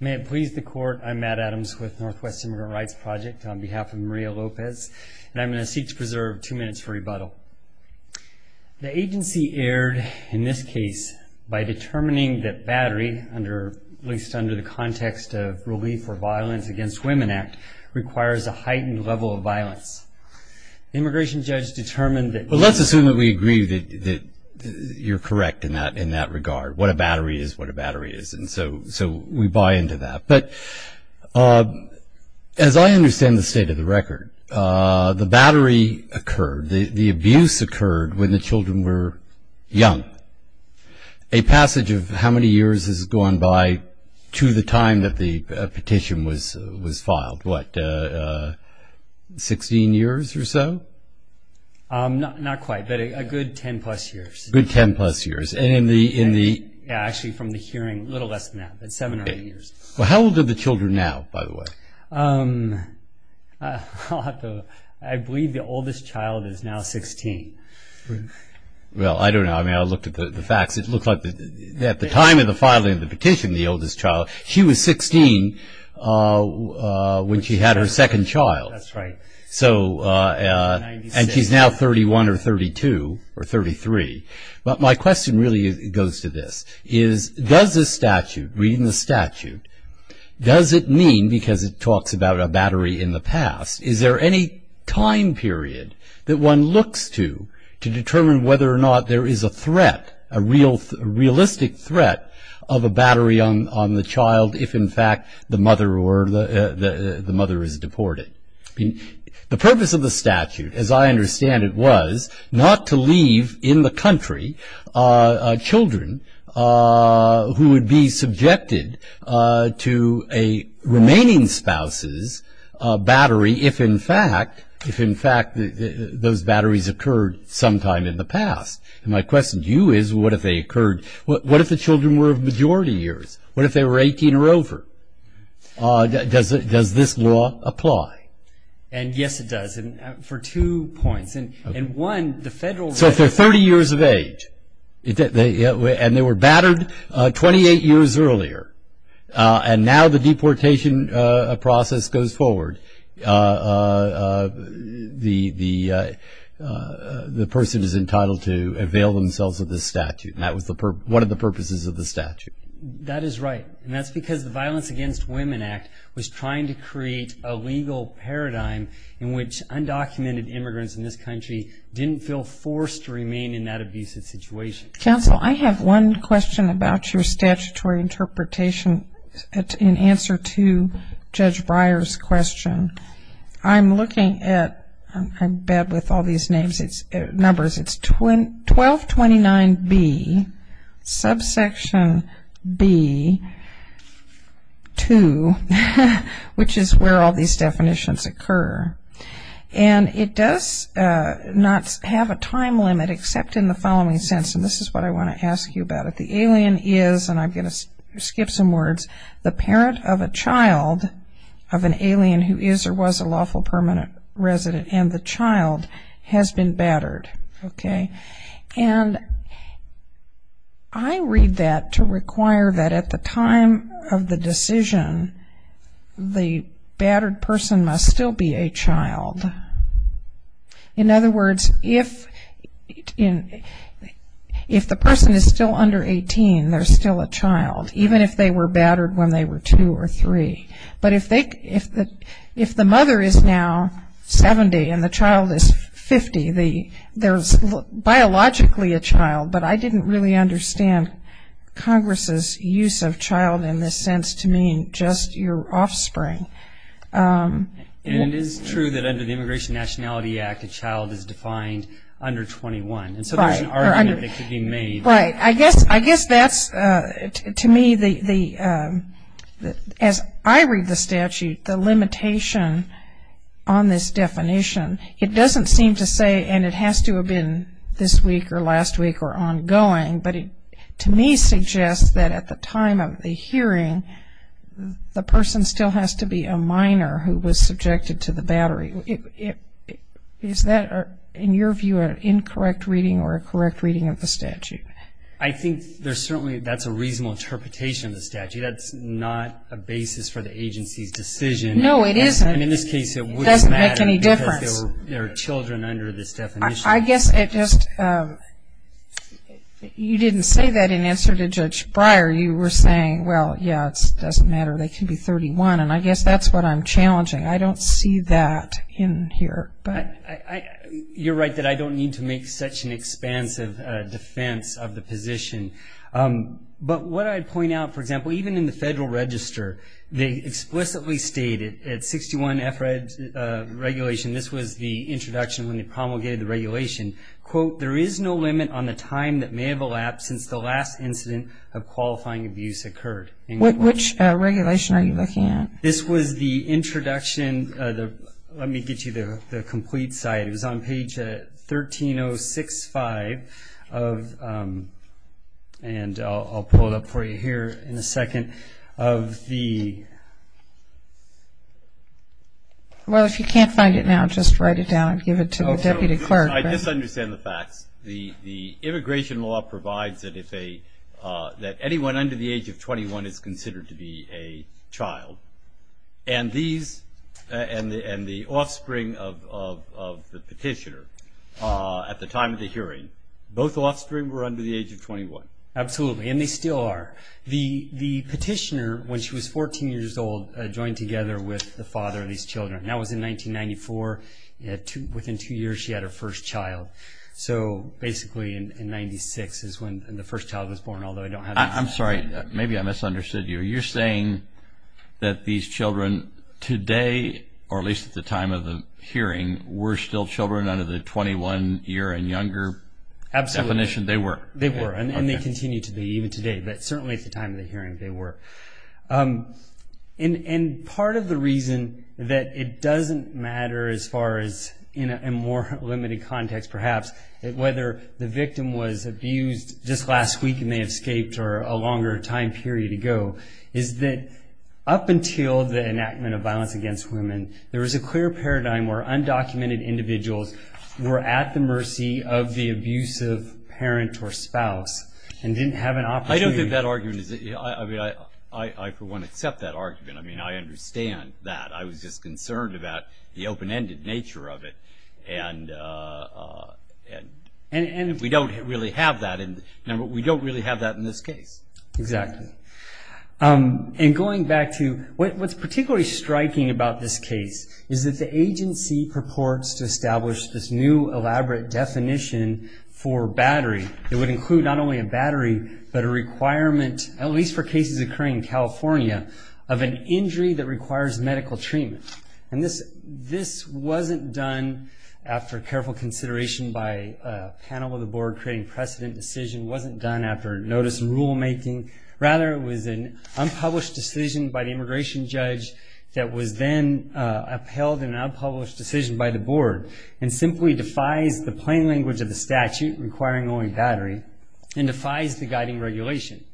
May it please the Court, I'm Matt Adams with Northwest Immigrant Rights Project on behalf of Maria Lopez, and I'm going to seek to preserve two minutes for rebuttal. The agency erred in this case by determining that battery, at least under the context of Relief for Violence Against Women Act, requires a heightened level of violence. The immigration judge determined that... Well, let's assume that we agree that you're correct in that regard, what a battery is what a battery is. And so we buy into that. But as I understand the state of the record, the battery occurred, the abuse occurred when the children were young. A passage of how many years has gone by to the time that the petition was filed? What, 16 years or so? Not quite, but a good 10 plus years. A good 10 plus years. Actually, from the hearing, a little less than that, but 7 or 8 years. How old are the children now, by the way? I believe the oldest child is now 16. Well, I don't know. I mean, I looked at the facts. It looked like at the time of the filing of the petition, the oldest child, she was 16 when she had her second child. That's right. And she's now 31 or 32 or 33. But my question really goes to this, is does this statute, reading the statute, does it mean, because it talks about a battery in the past, is there any time period that one looks to, to determine whether or not there is a threat, a realistic threat of a battery on the child if in fact the mother is deported? The purpose of the statute, as I understand it, was not to leave in the country children who would be subjected to a remaining spouse's battery if in fact those batteries occurred sometime in the past. And my question to you is, what if they occurred, what if the children were of majority years? What if they were 18 or over? Does this law apply? And yes, it does. And for two points. And one, the federal legislation. So if they're 30 years of age and they were battered 28 years earlier and now the deportation process goes forward, the person is entitled to avail themselves of this statute. And that was one of the purposes of the statute. That is right. And that's because the Violence Against Women Act was trying to create a legal paradigm in which undocumented immigrants in this country didn't feel forced to remain in that abusive situation. Counsel, I have one question about your statutory interpretation in answer to Judge Breyer's question. I'm looking at, I'm bad with all these numbers, it's 1229B, subsection B, 2, which is where all these definitions occur. And it does not have a time limit except in the following sense. And this is what I want to ask you about it. The alien is, and I'm going to skip some words, the parent of a child of an alien who is or was a lawful permanent resident and the child has been battered, okay? And I read that to require that at the time of the decision, the battered person must still be a child. In other words, if the person is still under 18, they're still a child, even if they were battered when they were two or three. But if the mother is now 70 and the child is 50, there's biologically a child, but I didn't really understand Congress's use of child in this sense to mean just your offspring. And it is true that under the Immigration Nationality Act, a child is defined under 21. And so there's an argument that could be made. Right. I guess that's, to me, as I read the statute, the limitation on this definition, it doesn't seem to say, and it has to have been this week or last week or ongoing, but it to me suggests that at the time of the hearing, the person still has to be a minor who was subjected to the battery. Is that, in your view, an incorrect reading or a correct reading of the statute? I think there's certainly that's a reasonable interpretation of the statute. That's not a basis for the agency's decision. No, it isn't. And in this case, it wouldn't matter because there are children under this definition. I guess it just, you didn't say that in answer to Judge Breyer. You were saying, well, yeah, it doesn't matter. They can be 31. And I guess that's what I'm challenging. I don't see that in here. You're right that I don't need to make such an expansive defense of the position. But what I'd point out, for example, even in the Federal Register, they explicitly stated at 61F regulation, this was the introduction when they promulgated the regulation, quote, there is no limit on the time that may have elapsed since the last incident of qualifying abuse occurred. Which regulation are you looking at? This was the introduction. Let me get you the complete site. It was on page 13065 of, and I'll pull it up for you here in a second, of the... Well, if you can't find it now, just write it down and give it to the Deputy Clerk. I just understand the facts. The immigration law provides that anyone under the age of 21 is considered to be a child. And the offspring of the petitioner at the time of the hearing, both offspring were under the age of 21. Absolutely, and they still are. The petitioner, when she was 14 years old, joined together with the father of these children. That was in 1994. Within two years, she had her first child. So basically in 1996 is when the first child was born, although I don't have that information. I'm sorry. Maybe I misunderstood you. You're saying that these children today, or at least at the time of the hearing, were still children under the 21-year-and-younger definition? They were. They were, and they continue to be, even today. But certainly at the time of the hearing, they were. And part of the reason that it doesn't matter as far as in a more limited context, perhaps, whether the victim was abused just last week and they escaped or a longer time period ago, is that up until the enactment of violence against women, there was a clear paradigm where undocumented individuals were at the mercy of the abusive parent or spouse and didn't have an opportunity. I for one accept that argument. I mean, I understand that. I was just concerned about the open-ended nature of it, and we don't really have that in this case. Exactly. And going back to what's particularly striking about this case is that the agency purports to establish this new elaborate definition for battery. It would include not only a battery, but a requirement, at least for cases occurring in California, of an injury that requires medical treatment. And this wasn't done after careful consideration by a panel of the board creating precedent decision. It wasn't done after notice and rulemaking. Rather, it was an unpublished decision by the immigration judge that was then upheld in an unpublished decision by the board and simply defies the plain language of the statute requiring only battery and defies the guiding regulation.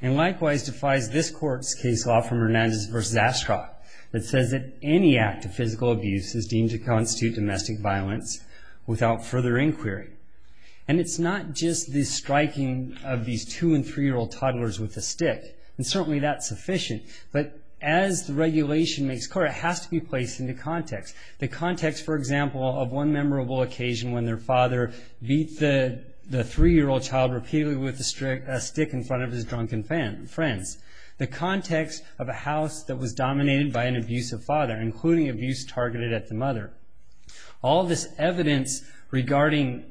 And likewise, defies this court's case law from Hernandez v. Ashcroft that says that any act of physical abuse is deemed to constitute domestic violence without further inquiry. And it's not just the striking of these two- and three-year-old toddlers with a stick, and certainly that's sufficient. But as the regulation makes clear, it has to be placed into context. The context, for example, of one memorable occasion when their father beat the three-year-old child repeatedly with a stick in front of his drunken friends. The context of a house that was dominated by an abusive father, including abuse targeted at the mother. All this evidence regarding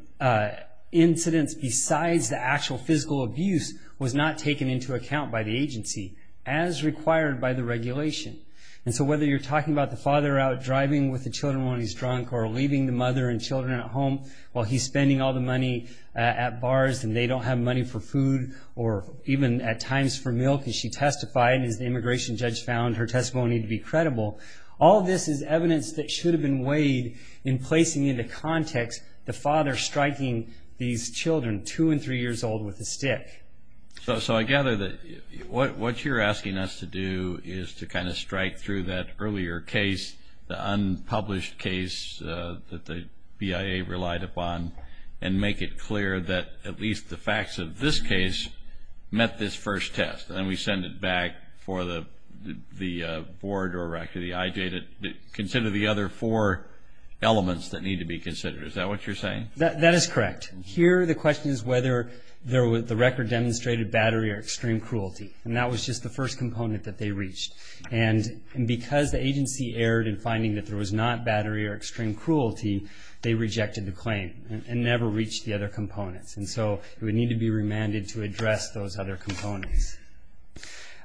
incidents besides the actual physical abuse was not taken into account by the agency as required by the regulation. And so whether you're talking about the father out driving with the children when he's drunk or leaving the mother and children at home while he's spending all the money at bars and they don't have money for food or even at times for milk as she testified, as the immigration judge found her testimony to be credible, all this is evidence that should have been weighed in placing into context the father striking these children two- and three-years-old with a stick. So I gather that what you're asking us to do is to kind of strike through that earlier case, the unpublished case that the BIA relied upon, and make it clear that at least the facts of this case met this first test. And we send it back for the board or actually the IJ to consider the other four elements that need to be considered. Is that what you're saying? That is correct. Here the question is whether the record demonstrated battery or extreme cruelty, and that was just the first component that they reached. And because the agency erred in finding that there was not battery or extreme cruelty, they rejected the claim and never reached the other components. And so it would need to be remanded to address those other components.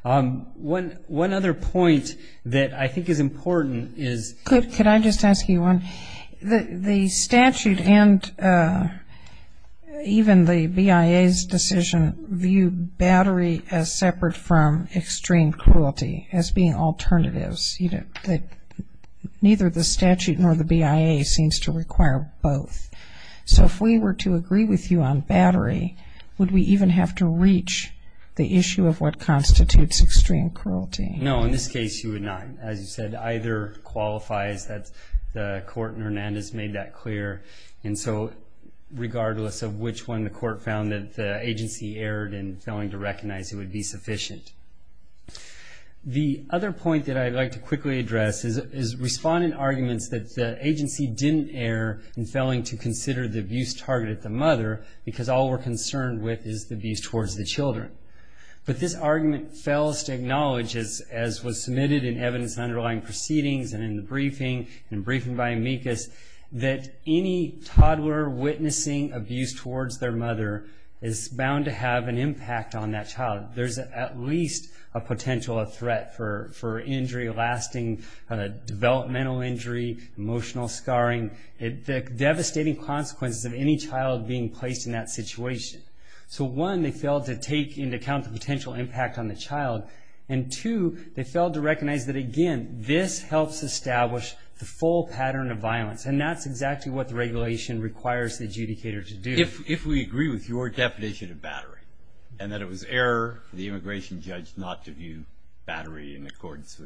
One other point that I think is important is the statute and even the BIA's decision view battery as separate from extreme cruelty as being alternatives. Neither the statute nor the BIA seems to require both. So if we were to agree with you on battery, would we even have to reach the issue of what constitutes extreme cruelty? No, in this case you would not. As you said, either qualifies. The court in Hernandez made that clear. And so regardless of which one, the court found that the agency erred in failing to recognize it would be sufficient. The other point that I'd like to quickly address is respondent arguments that the agency didn't err in failing to consider the abuse targeted at the mother because all we're concerned with is the abuse towards the children. But this argument fails to acknowledge, as was submitted in evidence in underlying proceedings and in the briefing, in a briefing by amicus, that any toddler witnessing abuse towards their mother is bound to have an impact on that child. There's at least a potential threat for injury, lasting developmental injury, emotional scarring, the devastating consequences of any child being placed in that situation. So one, they failed to take into account the potential impact on the child, and two, they failed to recognize that, again, this helps establish the full pattern of violence. And that's exactly what the regulation requires the adjudicator to do. If we agree with your definition of battery and that it was error for the immigration judge not to view battery in accordance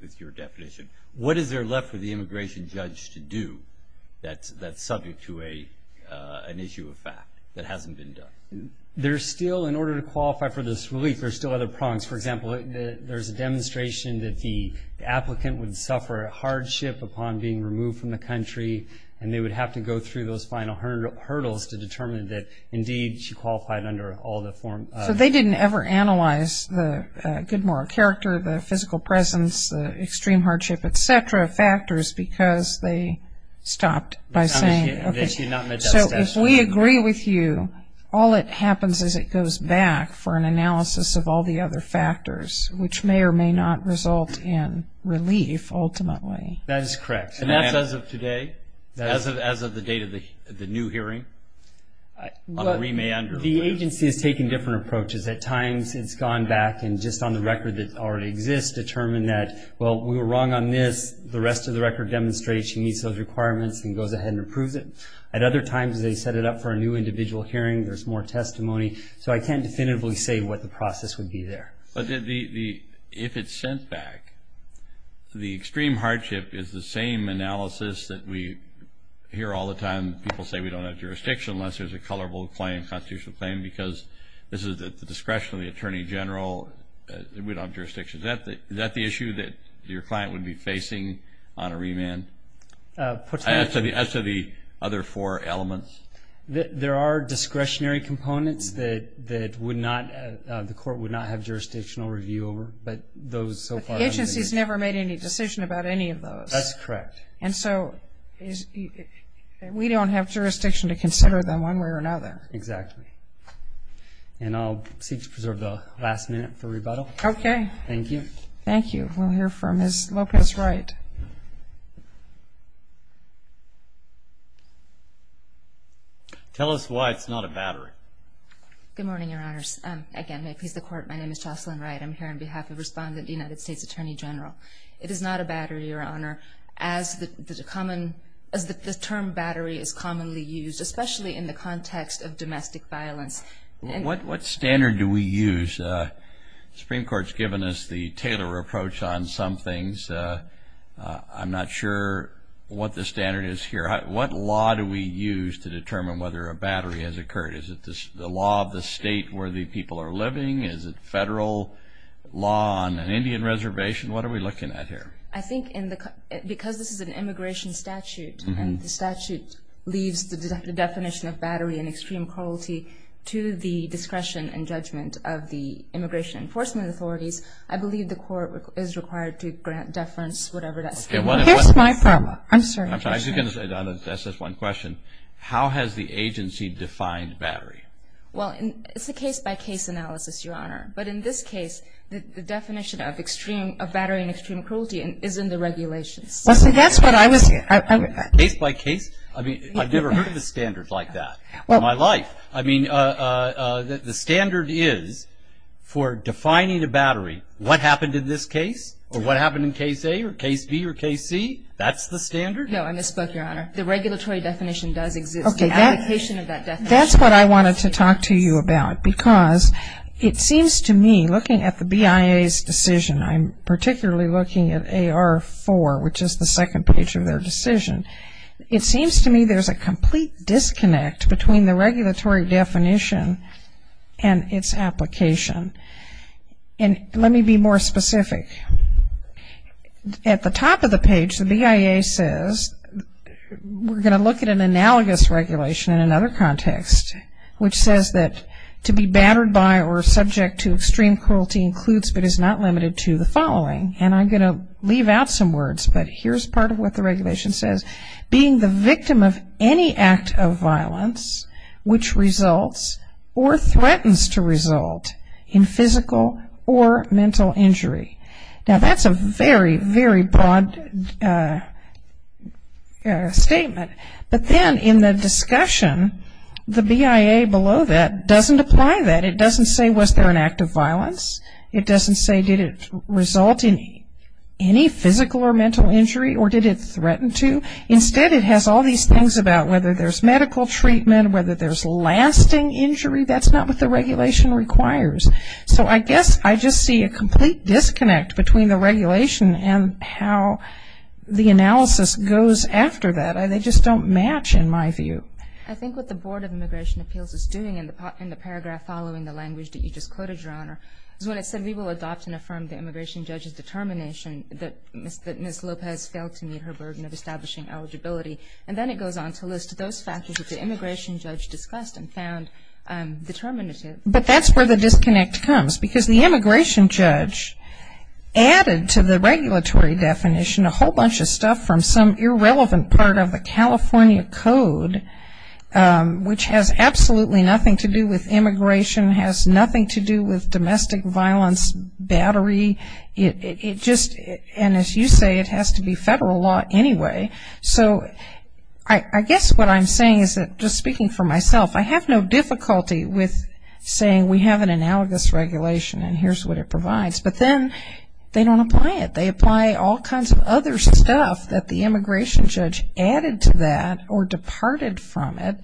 with your definition, what is there left for the immigration judge to do that's subject to an issue of fact that hasn't been done? There's still, in order to qualify for this relief, there's still other prongs. For example, there's a demonstration that the applicant would suffer hardship upon being removed from the country, and they would have to go through those final hurdles to determine that, indeed, she qualified under all the forms. So they didn't ever analyze the good moral character, the physical presence, the extreme hardship, et cetera, factors, because they stopped by saying, So if we agree with you, all that happens is it goes back for an analysis of all the other factors, which may or may not result in relief, ultimately. That is correct. And that's as of today, as of the date of the new hearing? The agency is taking different approaches. At times it's gone back and just on the record that already exists determined that, well, we were wrong on this. The rest of the record demonstrates she meets those requirements and goes ahead and approves it. At other times they set it up for a new individual hearing. There's more testimony. So I can't definitively say what the process would be there. But if it's sent back, the extreme hardship is the same analysis that we hear all the time. People say we don't have jurisdiction unless there's a colorful claim, constitutional claim, because this is at the discretion of the Attorney General. We don't have jurisdiction. Is that the issue that your client would be facing on a remand? As to the other four elements? There are discretionary components that the court would not have jurisdictional review over. But the agency has never made any decision about any of those. That's correct. And so we don't have jurisdiction to consider them one way or another. Exactly. And I'll seek to preserve the last minute for rebuttal. Okay. Thank you. Thank you. We'll hear from Ms. Lopez-Wright. Tell us why it's not a battery. Good morning, Your Honors. Again, may it please the Court, my name is Jocelyn Wright. I'm here on behalf of Respondent, United States Attorney General. It is not a battery, Your Honor, as the term battery is commonly used, especially in the context of domestic violence. What standard do we use? The Supreme Court has given us the Taylor approach on some things. I'm not sure what the standard is here. What law do we use to determine whether a battery has occurred? Is it the law of the state where the people are living? Is it federal law on an Indian reservation? What are we looking at here? I think because this is an immigration statute and the statute leaves the definition of battery in extreme cruelty to the discretion and judgment of the immigration enforcement authorities, I believe the Court is required to grant deference, whatever that standard is. Here's my problem. I'm sorry. I was going to say, Donna, that's just one question. How has the agency defined battery? Well, it's a case-by-case analysis, Your Honor. But in this case, the definition of battery in extreme cruelty is in the regulations. Case-by-case? I mean, I've never heard of a standard like that in my life. I mean, the standard is for defining a battery, what happened in this case or what happened in Case A or Case B or Case C? That's the standard? No, in this book, Your Honor, the regulatory definition does exist. Okay. The application of that definition. That's what I wanted to talk to you about because it seems to me, looking at the BIA's decision, I'm particularly looking at AR4, which is the second page of their decision. It seems to me there's a complete disconnect between the regulatory definition and its application. And let me be more specific. At the top of the page, the BIA says, we're going to look at an analogous regulation in another context, which says that to be battered by or subject to extreme cruelty includes but is not limited to the following. And I'm going to leave out some words, but here's part of what the regulation says. Being the victim of any act of violence which results or threatens to result in physical or mental injury. Now, that's a very, very broad statement. But then in the discussion, the BIA below that doesn't apply that. It doesn't say was there an act of violence. It doesn't say did it result in any physical or mental injury or did it threaten to. Instead, it has all these things about whether there's medical treatment, whether there's lasting injury. That's not what the regulation requires. So I guess I just see a complete disconnect between the regulation and how the analysis goes after that. They just don't match in my view. I think what the Board of Immigration Appeals is doing in the paragraph following the language that you just quoted, Your Honor, is when it said we will adopt and affirm the immigration judge's determination that Ms. Lopez failed to meet her burden of establishing eligibility. And then it goes on to list those factors that the immigration judge discussed and found determinative. But that's where the disconnect comes because the immigration judge added to the regulatory definition a whole bunch of stuff from some irrelevant part of the California Code, which has absolutely nothing to do with immigration, has nothing to do with domestic violence battery. It just, and as you say, it has to be federal law anyway. So I guess what I'm saying is that, just speaking for myself, I have no difficulty with saying we have an analogous regulation and here's what it provides. But then they don't apply it. They apply all kinds of other stuff that the immigration judge added to that or departed from it.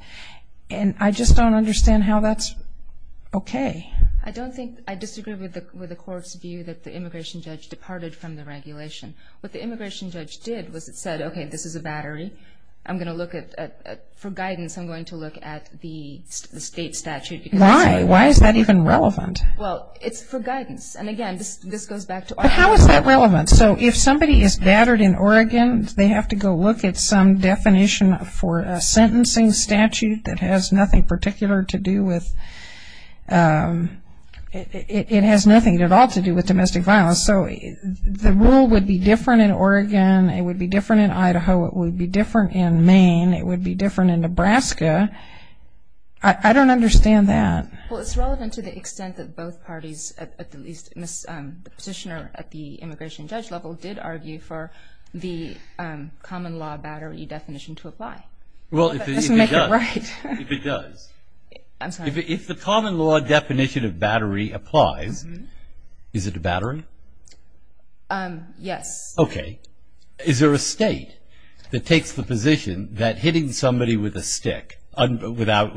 And I just don't understand how that's okay. I don't think, I disagree with the court's view that the immigration judge departed from the regulation. What the immigration judge did was it said, okay, this is a battery. I'm going to look at, for guidance, I'm going to look at the state statute. Why? Why is that even relevant? Well, it's for guidance. And again, this goes back to Oregon. But how is that relevant? So if somebody is battered in Oregon, they have to go look at some definition for a sentencing statute that has nothing particular to do with, it has nothing at all to do with domestic violence. So the rule would be different in Oregon. It would be different in Idaho. It would be different in Maine. It would be different in Nebraska. I don't understand that. Well, it's relevant to the extent that both parties, at least the petitioner at the immigration judge level, did argue for the common law battery definition to apply. Well, if it does. If it does. I'm sorry. If the common law definition of battery applies, is it a battery? Yes. Okay. Is there a state that takes the position that hitting somebody with a stick without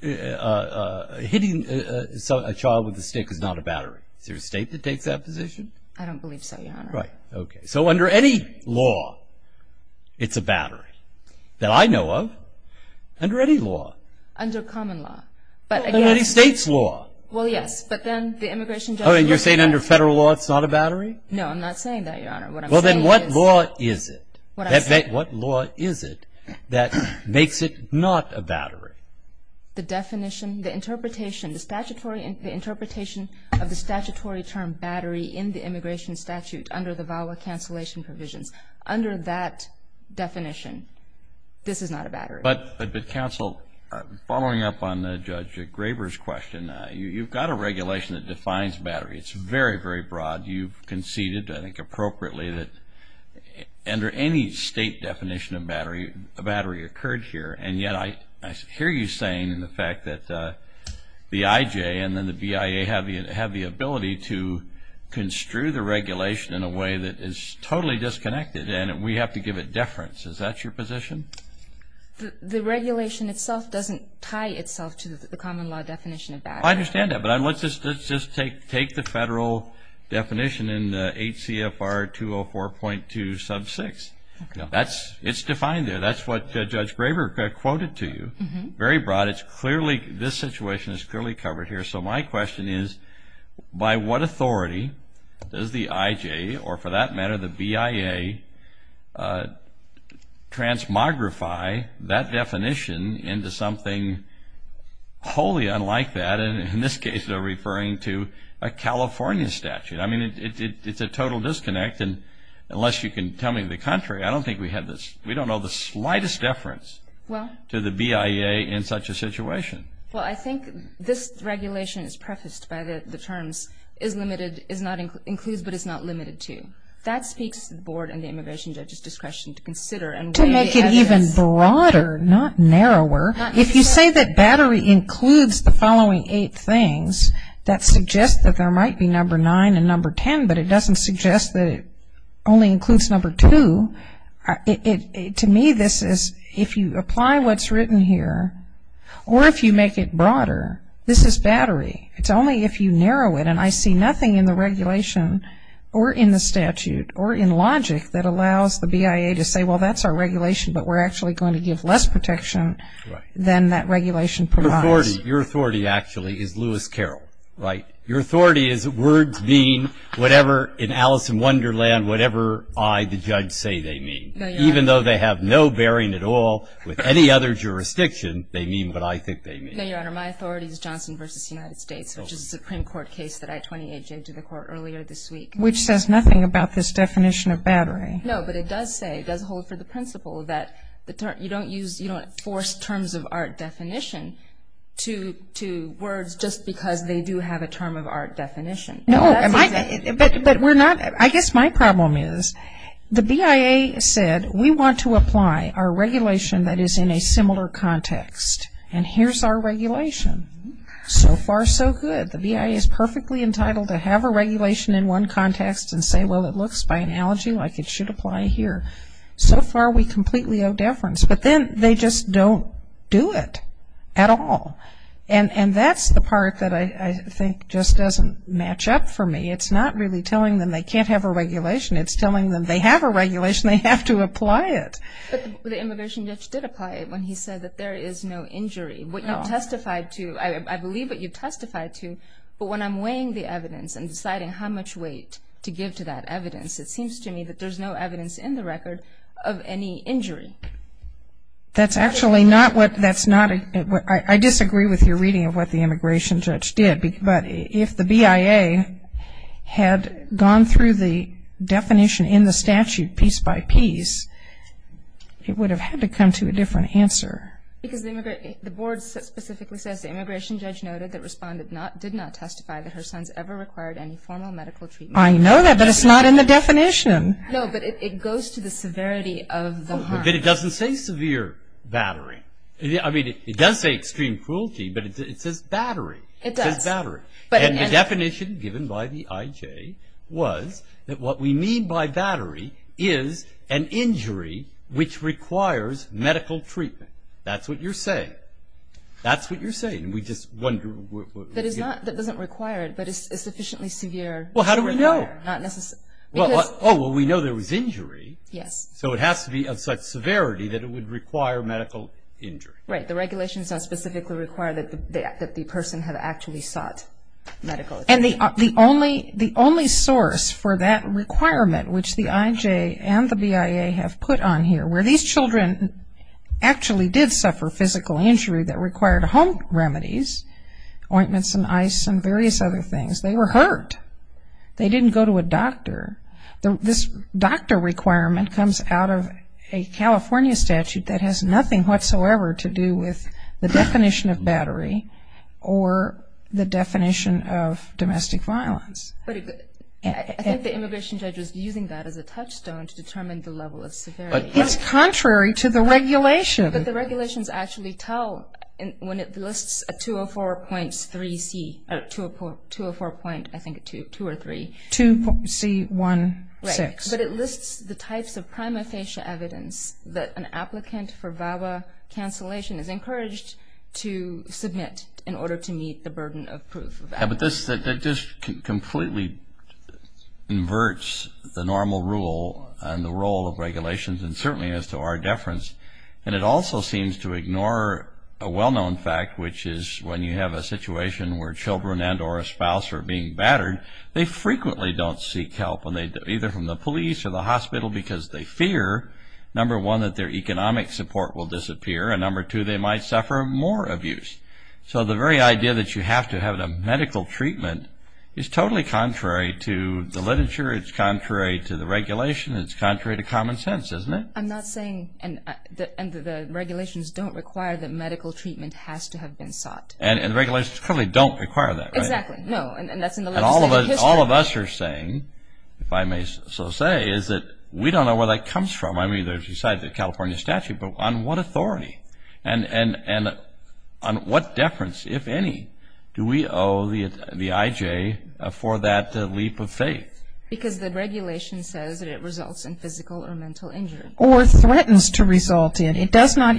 hitting a child with a stick is not a battery? Is there a state that takes that position? I don't believe so, Your Honor. Right. Okay. So under any law, it's a battery. That I know of, under any law. Under common law. Under any state's law. Well, yes. But then the immigration judge. Oh, and you're saying under federal law it's not a battery? No, I'm not saying that, Your Honor. What I'm saying is. Well, then what law is it? What I said. What law is it that makes it not a battery? The definition, the interpretation, the interpretation of the statutory term battery in the immigration statute under the VAWA cancellation provisions. Under that definition, this is not a battery. But counsel, following up on Judge Graber's question, you've got a regulation that defines battery. It's very, very broad. You've conceded, I think appropriately, that under any state definition of battery, a battery occurred here. And yet I hear you saying the fact that the IJ and then the BIA have the ability to construe the regulation in a way that is totally disconnected and we have to give it deference. Is that your position? The regulation itself doesn't tie itself to the common law definition of battery. I understand that. But let's just take the federal definition in the 8 CFR 204.2 sub 6. It's defined there. That's what Judge Graber quoted to you. Very broad. This situation is clearly covered here. So my question is, by what authority does the IJ or, for that matter, the BIA, transmogrify that definition into something wholly unlike that, and in this case they're referring to a California statute. I mean, it's a total disconnect. And unless you can tell me the contrary, I don't think we have this. We don't know the slightest deference to the BIA in such a situation. Well, I think this regulation is prefaced by the terms, includes but is not limited to. That speaks to the board and the immigration judge's discretion to consider. To make it even broader, not narrower. If you say that battery includes the following eight things, that suggests that there might be number 9 and number 10, but it doesn't suggest that it only includes number 2. To me, this is, if you apply what's written here, or if you make it broader, this is battery. It's only if you narrow it, and I see nothing in the regulation or in the statute or in logic that allows the BIA to say, well, that's our regulation, but we're actually going to give less protection than that regulation provides. Your authority, actually, is Lewis Carroll, right? Your authority is words being whatever in Alice in Wonderland, whatever I, the judge, say they mean. No, Your Honor. Even though they have no bearing at all with any other jurisdiction, they mean what I think they mean. No, Your Honor, my authority is Johnson v. United States, which is a Supreme Court case that I 28-J'd to the court earlier this week. Which says nothing about this definition of battery. No, but it does say, it does hold for the principle that you don't use, you don't force terms of art definition to words just because they do have a term of art definition. No, but we're not, I guess my problem is the BIA said, we want to apply our regulation that is in a similar context, and here's our regulation. So far, so good. The BIA is perfectly entitled to have a regulation in one context and say, well, it looks by analogy like it should apply here. So far, we completely owe deference. But then they just don't do it at all. And that's the part that I think just doesn't match up for me. It's not really telling them they can't have a regulation, it's telling them they have a regulation, they have to apply it. But the immigration judge did apply it when he said that there is no injury. What you testified to, I believe what you testified to, but when I'm weighing the evidence and deciding how much weight to give to that evidence, it seems to me that there's no evidence in the record of any injury. That's actually not what, that's not, I disagree with your reading of what the immigration judge did. But if the BIA had gone through the definition in the statute piece by piece, it would have had to come to a different answer. Because the board specifically says the immigration judge noted that responded not, did not testify that her sons ever required any formal medical treatment. I know that, but it's not in the definition. No, but it goes to the severity of the harm. But it doesn't say severe battery. I mean, it does say extreme cruelty, but it says battery. It does. It says battery. And the definition given by the IJ was that what we mean by battery is an injury which requires medical treatment. That's what you're saying. That's what you're saying. We just wonder. That doesn't require it, but it's sufficiently severe. Well, how do we know? Not necessarily. Oh, well, we know there was injury. Yes. So it has to be of such severity that it would require medical injury. Right. The regulations don't specifically require that the person had actually sought medical treatment. And the only source for that requirement, which the IJ and the BIA have put on here, where these children actually did suffer physical injury that required home remedies, ointments and ice and various other things, they were hurt. They didn't go to a doctor. This doctor requirement comes out of a California statute that has nothing whatsoever to do with the definition of battery or the definition of domestic violence. But I think the immigration judge was using that as a touchstone to determine the level of severity. It's contrary to the regulation. But the regulations actually tell when it lists a 204.3C, 204.2 or 3. 2.C16. Right. But it lists the types of prima facie evidence that an applicant for VAWA cancellation is encouraged to submit in order to meet the burden of proof. But that just completely inverts the normal rule and the role of regulations, and certainly as to our deference. And it also seems to ignore a well-known fact, which is when you have a situation where children and or a spouse are being battered, they frequently don't seek help either from the police or the hospital because they fear, number one, that their economic support will disappear, and number two, they might suffer more abuse. So the very idea that you have to have a medical treatment is totally contrary to the literature. It's contrary to the regulation. It's contrary to common sense, isn't it? I'm not saying, and the regulations don't require that medical treatment has to have been sought. And the regulations clearly don't require that, right? Exactly. No, and that's in the legislative history. And all of us are saying, if I may so say, is that we don't know where that comes from. I mean, it's inside the California statute, but on what authority? And on what deference, if any, do we owe the IJ for that leap of faith? Because the regulation says that it results in physical or mental injury. Or threatens to result in. It does not,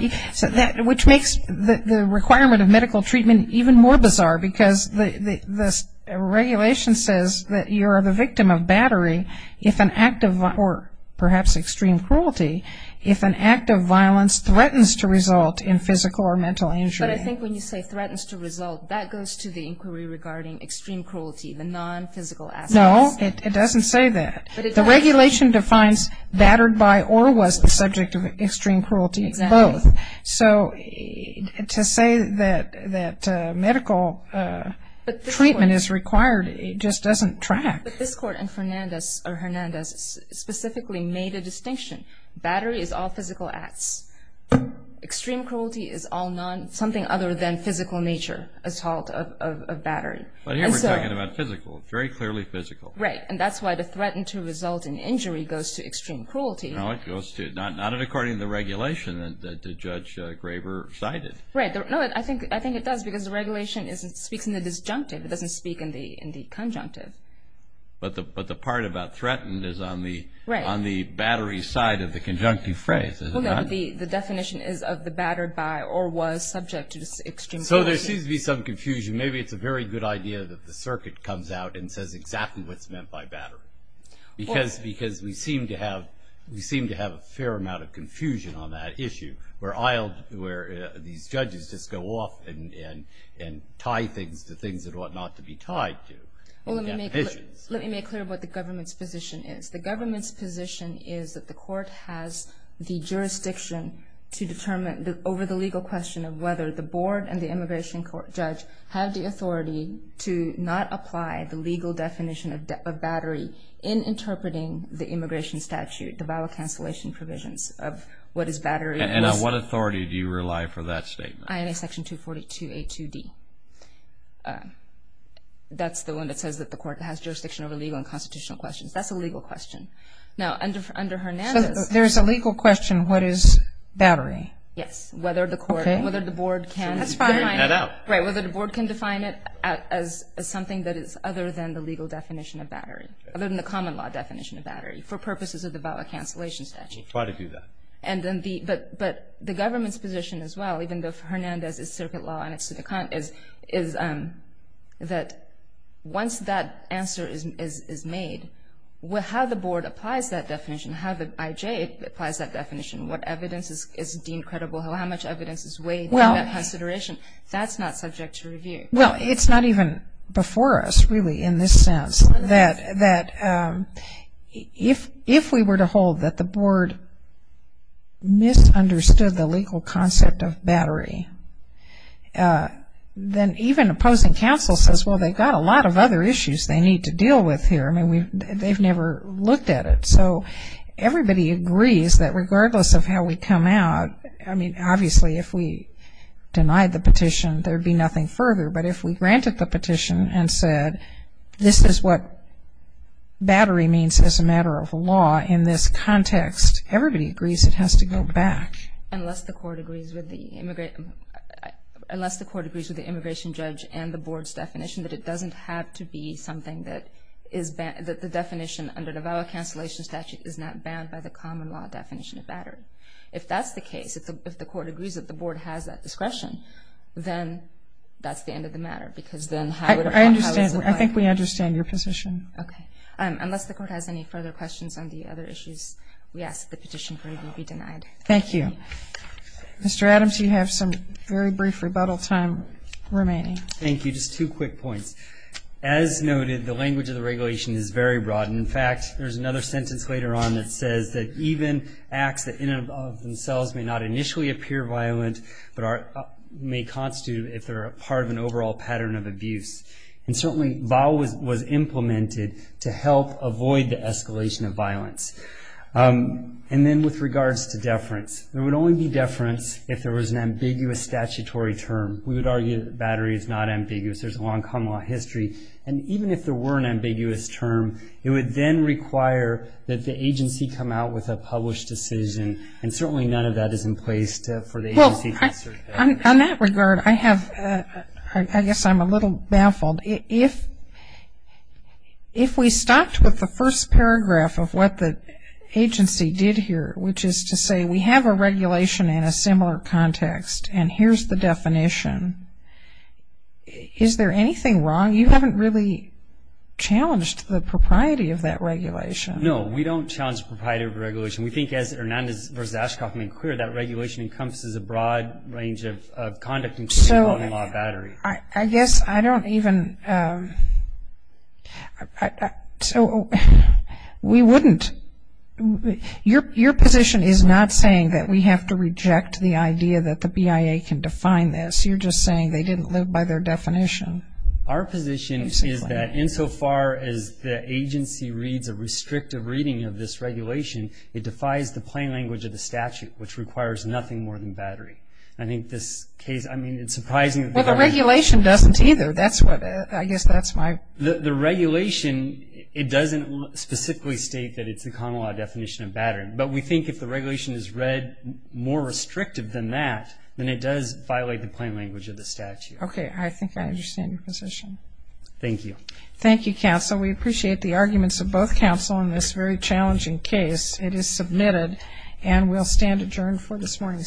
which makes the requirement of medical treatment even more bizarre because the regulation says that you're the victim of battery if an act of, or perhaps extreme cruelty, if an act of violence threatens to result in physical or mental injury. But I think when you say threatens to result, that goes to the inquiry regarding extreme cruelty, the non-physical acts. No, it doesn't say that. The regulation defines battered by or was the subject of extreme cruelty. Exactly. Both. So to say that medical treatment is required, it just doesn't track. But this court in Hernandez specifically made a distinction. Battery is all physical acts. Extreme cruelty is all non, something other than physical nature, assault of battery. But here we're talking about physical, very clearly physical. Right. And that's why the threatened to result in injury goes to extreme cruelty. No, it goes to, not according to the regulation that Judge Graver cited. Right. No, I think it does because the regulation speaks in the disjunctive. It doesn't speak in the conjunctive. But the part about threatened is on the battery side of the conjunctive phrase, is it not? Well, no, but the definition is of the battered by or was subject to extreme cruelty. So there seems to be some confusion. Maybe it's a very good idea that the circuit comes out and says exactly what's meant by battered. Because we seem to have a fair amount of confusion on that issue, where these judges just go off and tie things to things that ought not to be tied to. Well, let me make clear what the government's position is. The government's position is that the court has the jurisdiction to determine, over the legal question of whether the board and the immigration judge have the authority to not apply the legal definition of battery in interpreting the immigration statute, the vowel cancellation provisions of what is battery. And on what authority do you rely for that statement? INA section 242A2D. That's the one that says that the court has jurisdiction over legal and constitutional questions. That's a legal question. Now, under Hernandez. So there's a legal question, what is battery? Yes. Okay. Whether the board can define it. That's fine. Right. Whether the board can define it as something that is other than the legal definition of battery, other than the common law definition of battery for purposes of the vowel cancellation statute. Try to do that. But the government's position as well, even though for Hernandez it's circuit law and it's to the contrary, is that once that answer is made, how the board applies that definition, how the IJ applies that definition, what evidence is deemed credible, how much evidence is weighed in that consideration, that's not subject to review. Well, it's not even before us really in this sense that if we were to hold that the board misunderstood the legal concept of battery, then even opposing counsel says, well, they've got a lot of other issues they need to deal with here. I mean, they've never looked at it. So everybody agrees that regardless of how we come out, I mean, obviously, if we denied the petition, there would be nothing further. But if we granted the petition and said this is what battery means as a matter of law in this context, everybody agrees it has to go back. Unless the court agrees with the immigration judge and the board's definition that it doesn't have to be that the definition under the vow of cancellation statute is not bound by the common law definition of battery. If that's the case, if the court agrees that the board has that discretion, then that's the end of the matter because then how would it apply? I think we understand your position. Okay. Unless the court has any further questions on the other issues, we ask that the petition be denied. Thank you. Mr. Adams, you have some very brief rebuttal time remaining. Thank you. Just two quick points. As noted, the language of the regulation is very broad. In fact, there's another sentence later on that says that even acts that in and of themselves may not initially appear violent but may constitute if they're part of an overall pattern of abuse. And certainly vow was implemented to help avoid the escalation of violence. And then with regards to deference, there would only be deference if there was an ambiguous statutory term. We would argue that battery is not ambiguous. There's a long common law history. And even if there were an ambiguous term, it would then require that the agency come out with a published decision, and certainly none of that is in place for the agency to assert that. On that regard, I guess I'm a little baffled. If we stopped with the first paragraph of what the agency did here, which is to say we have a regulation in a similar context, and here's the definition, is there anything wrong? You haven't really challenged the propriety of that regulation. No, we don't challenge the propriety of the regulation. We think as Hernandez versus Ashcroft made clear, that regulation encompasses a broad range of conduct including law and battery. I guess I don't even, so we wouldn't, your position is not saying that we have to reject the idea that the BIA can define this. You're just saying they didn't live by their definition. Our position is that insofar as the agency reads a restrictive reading of this regulation, it defies the plain language of the statute, which requires nothing more than battery. I think this case, I mean, it's surprising. Well, the regulation doesn't either. I guess that's why. The regulation, it doesn't specifically state that it's a common law definition of battery, but we think if the regulation is read more restrictive than that, then it does violate the plain language of the statute. Okay, I think I understand your position. Thank you. Thank you, counsel. We appreciate the arguments of both counsel in this very challenging case. It is submitted and will stand adjourned for this morning.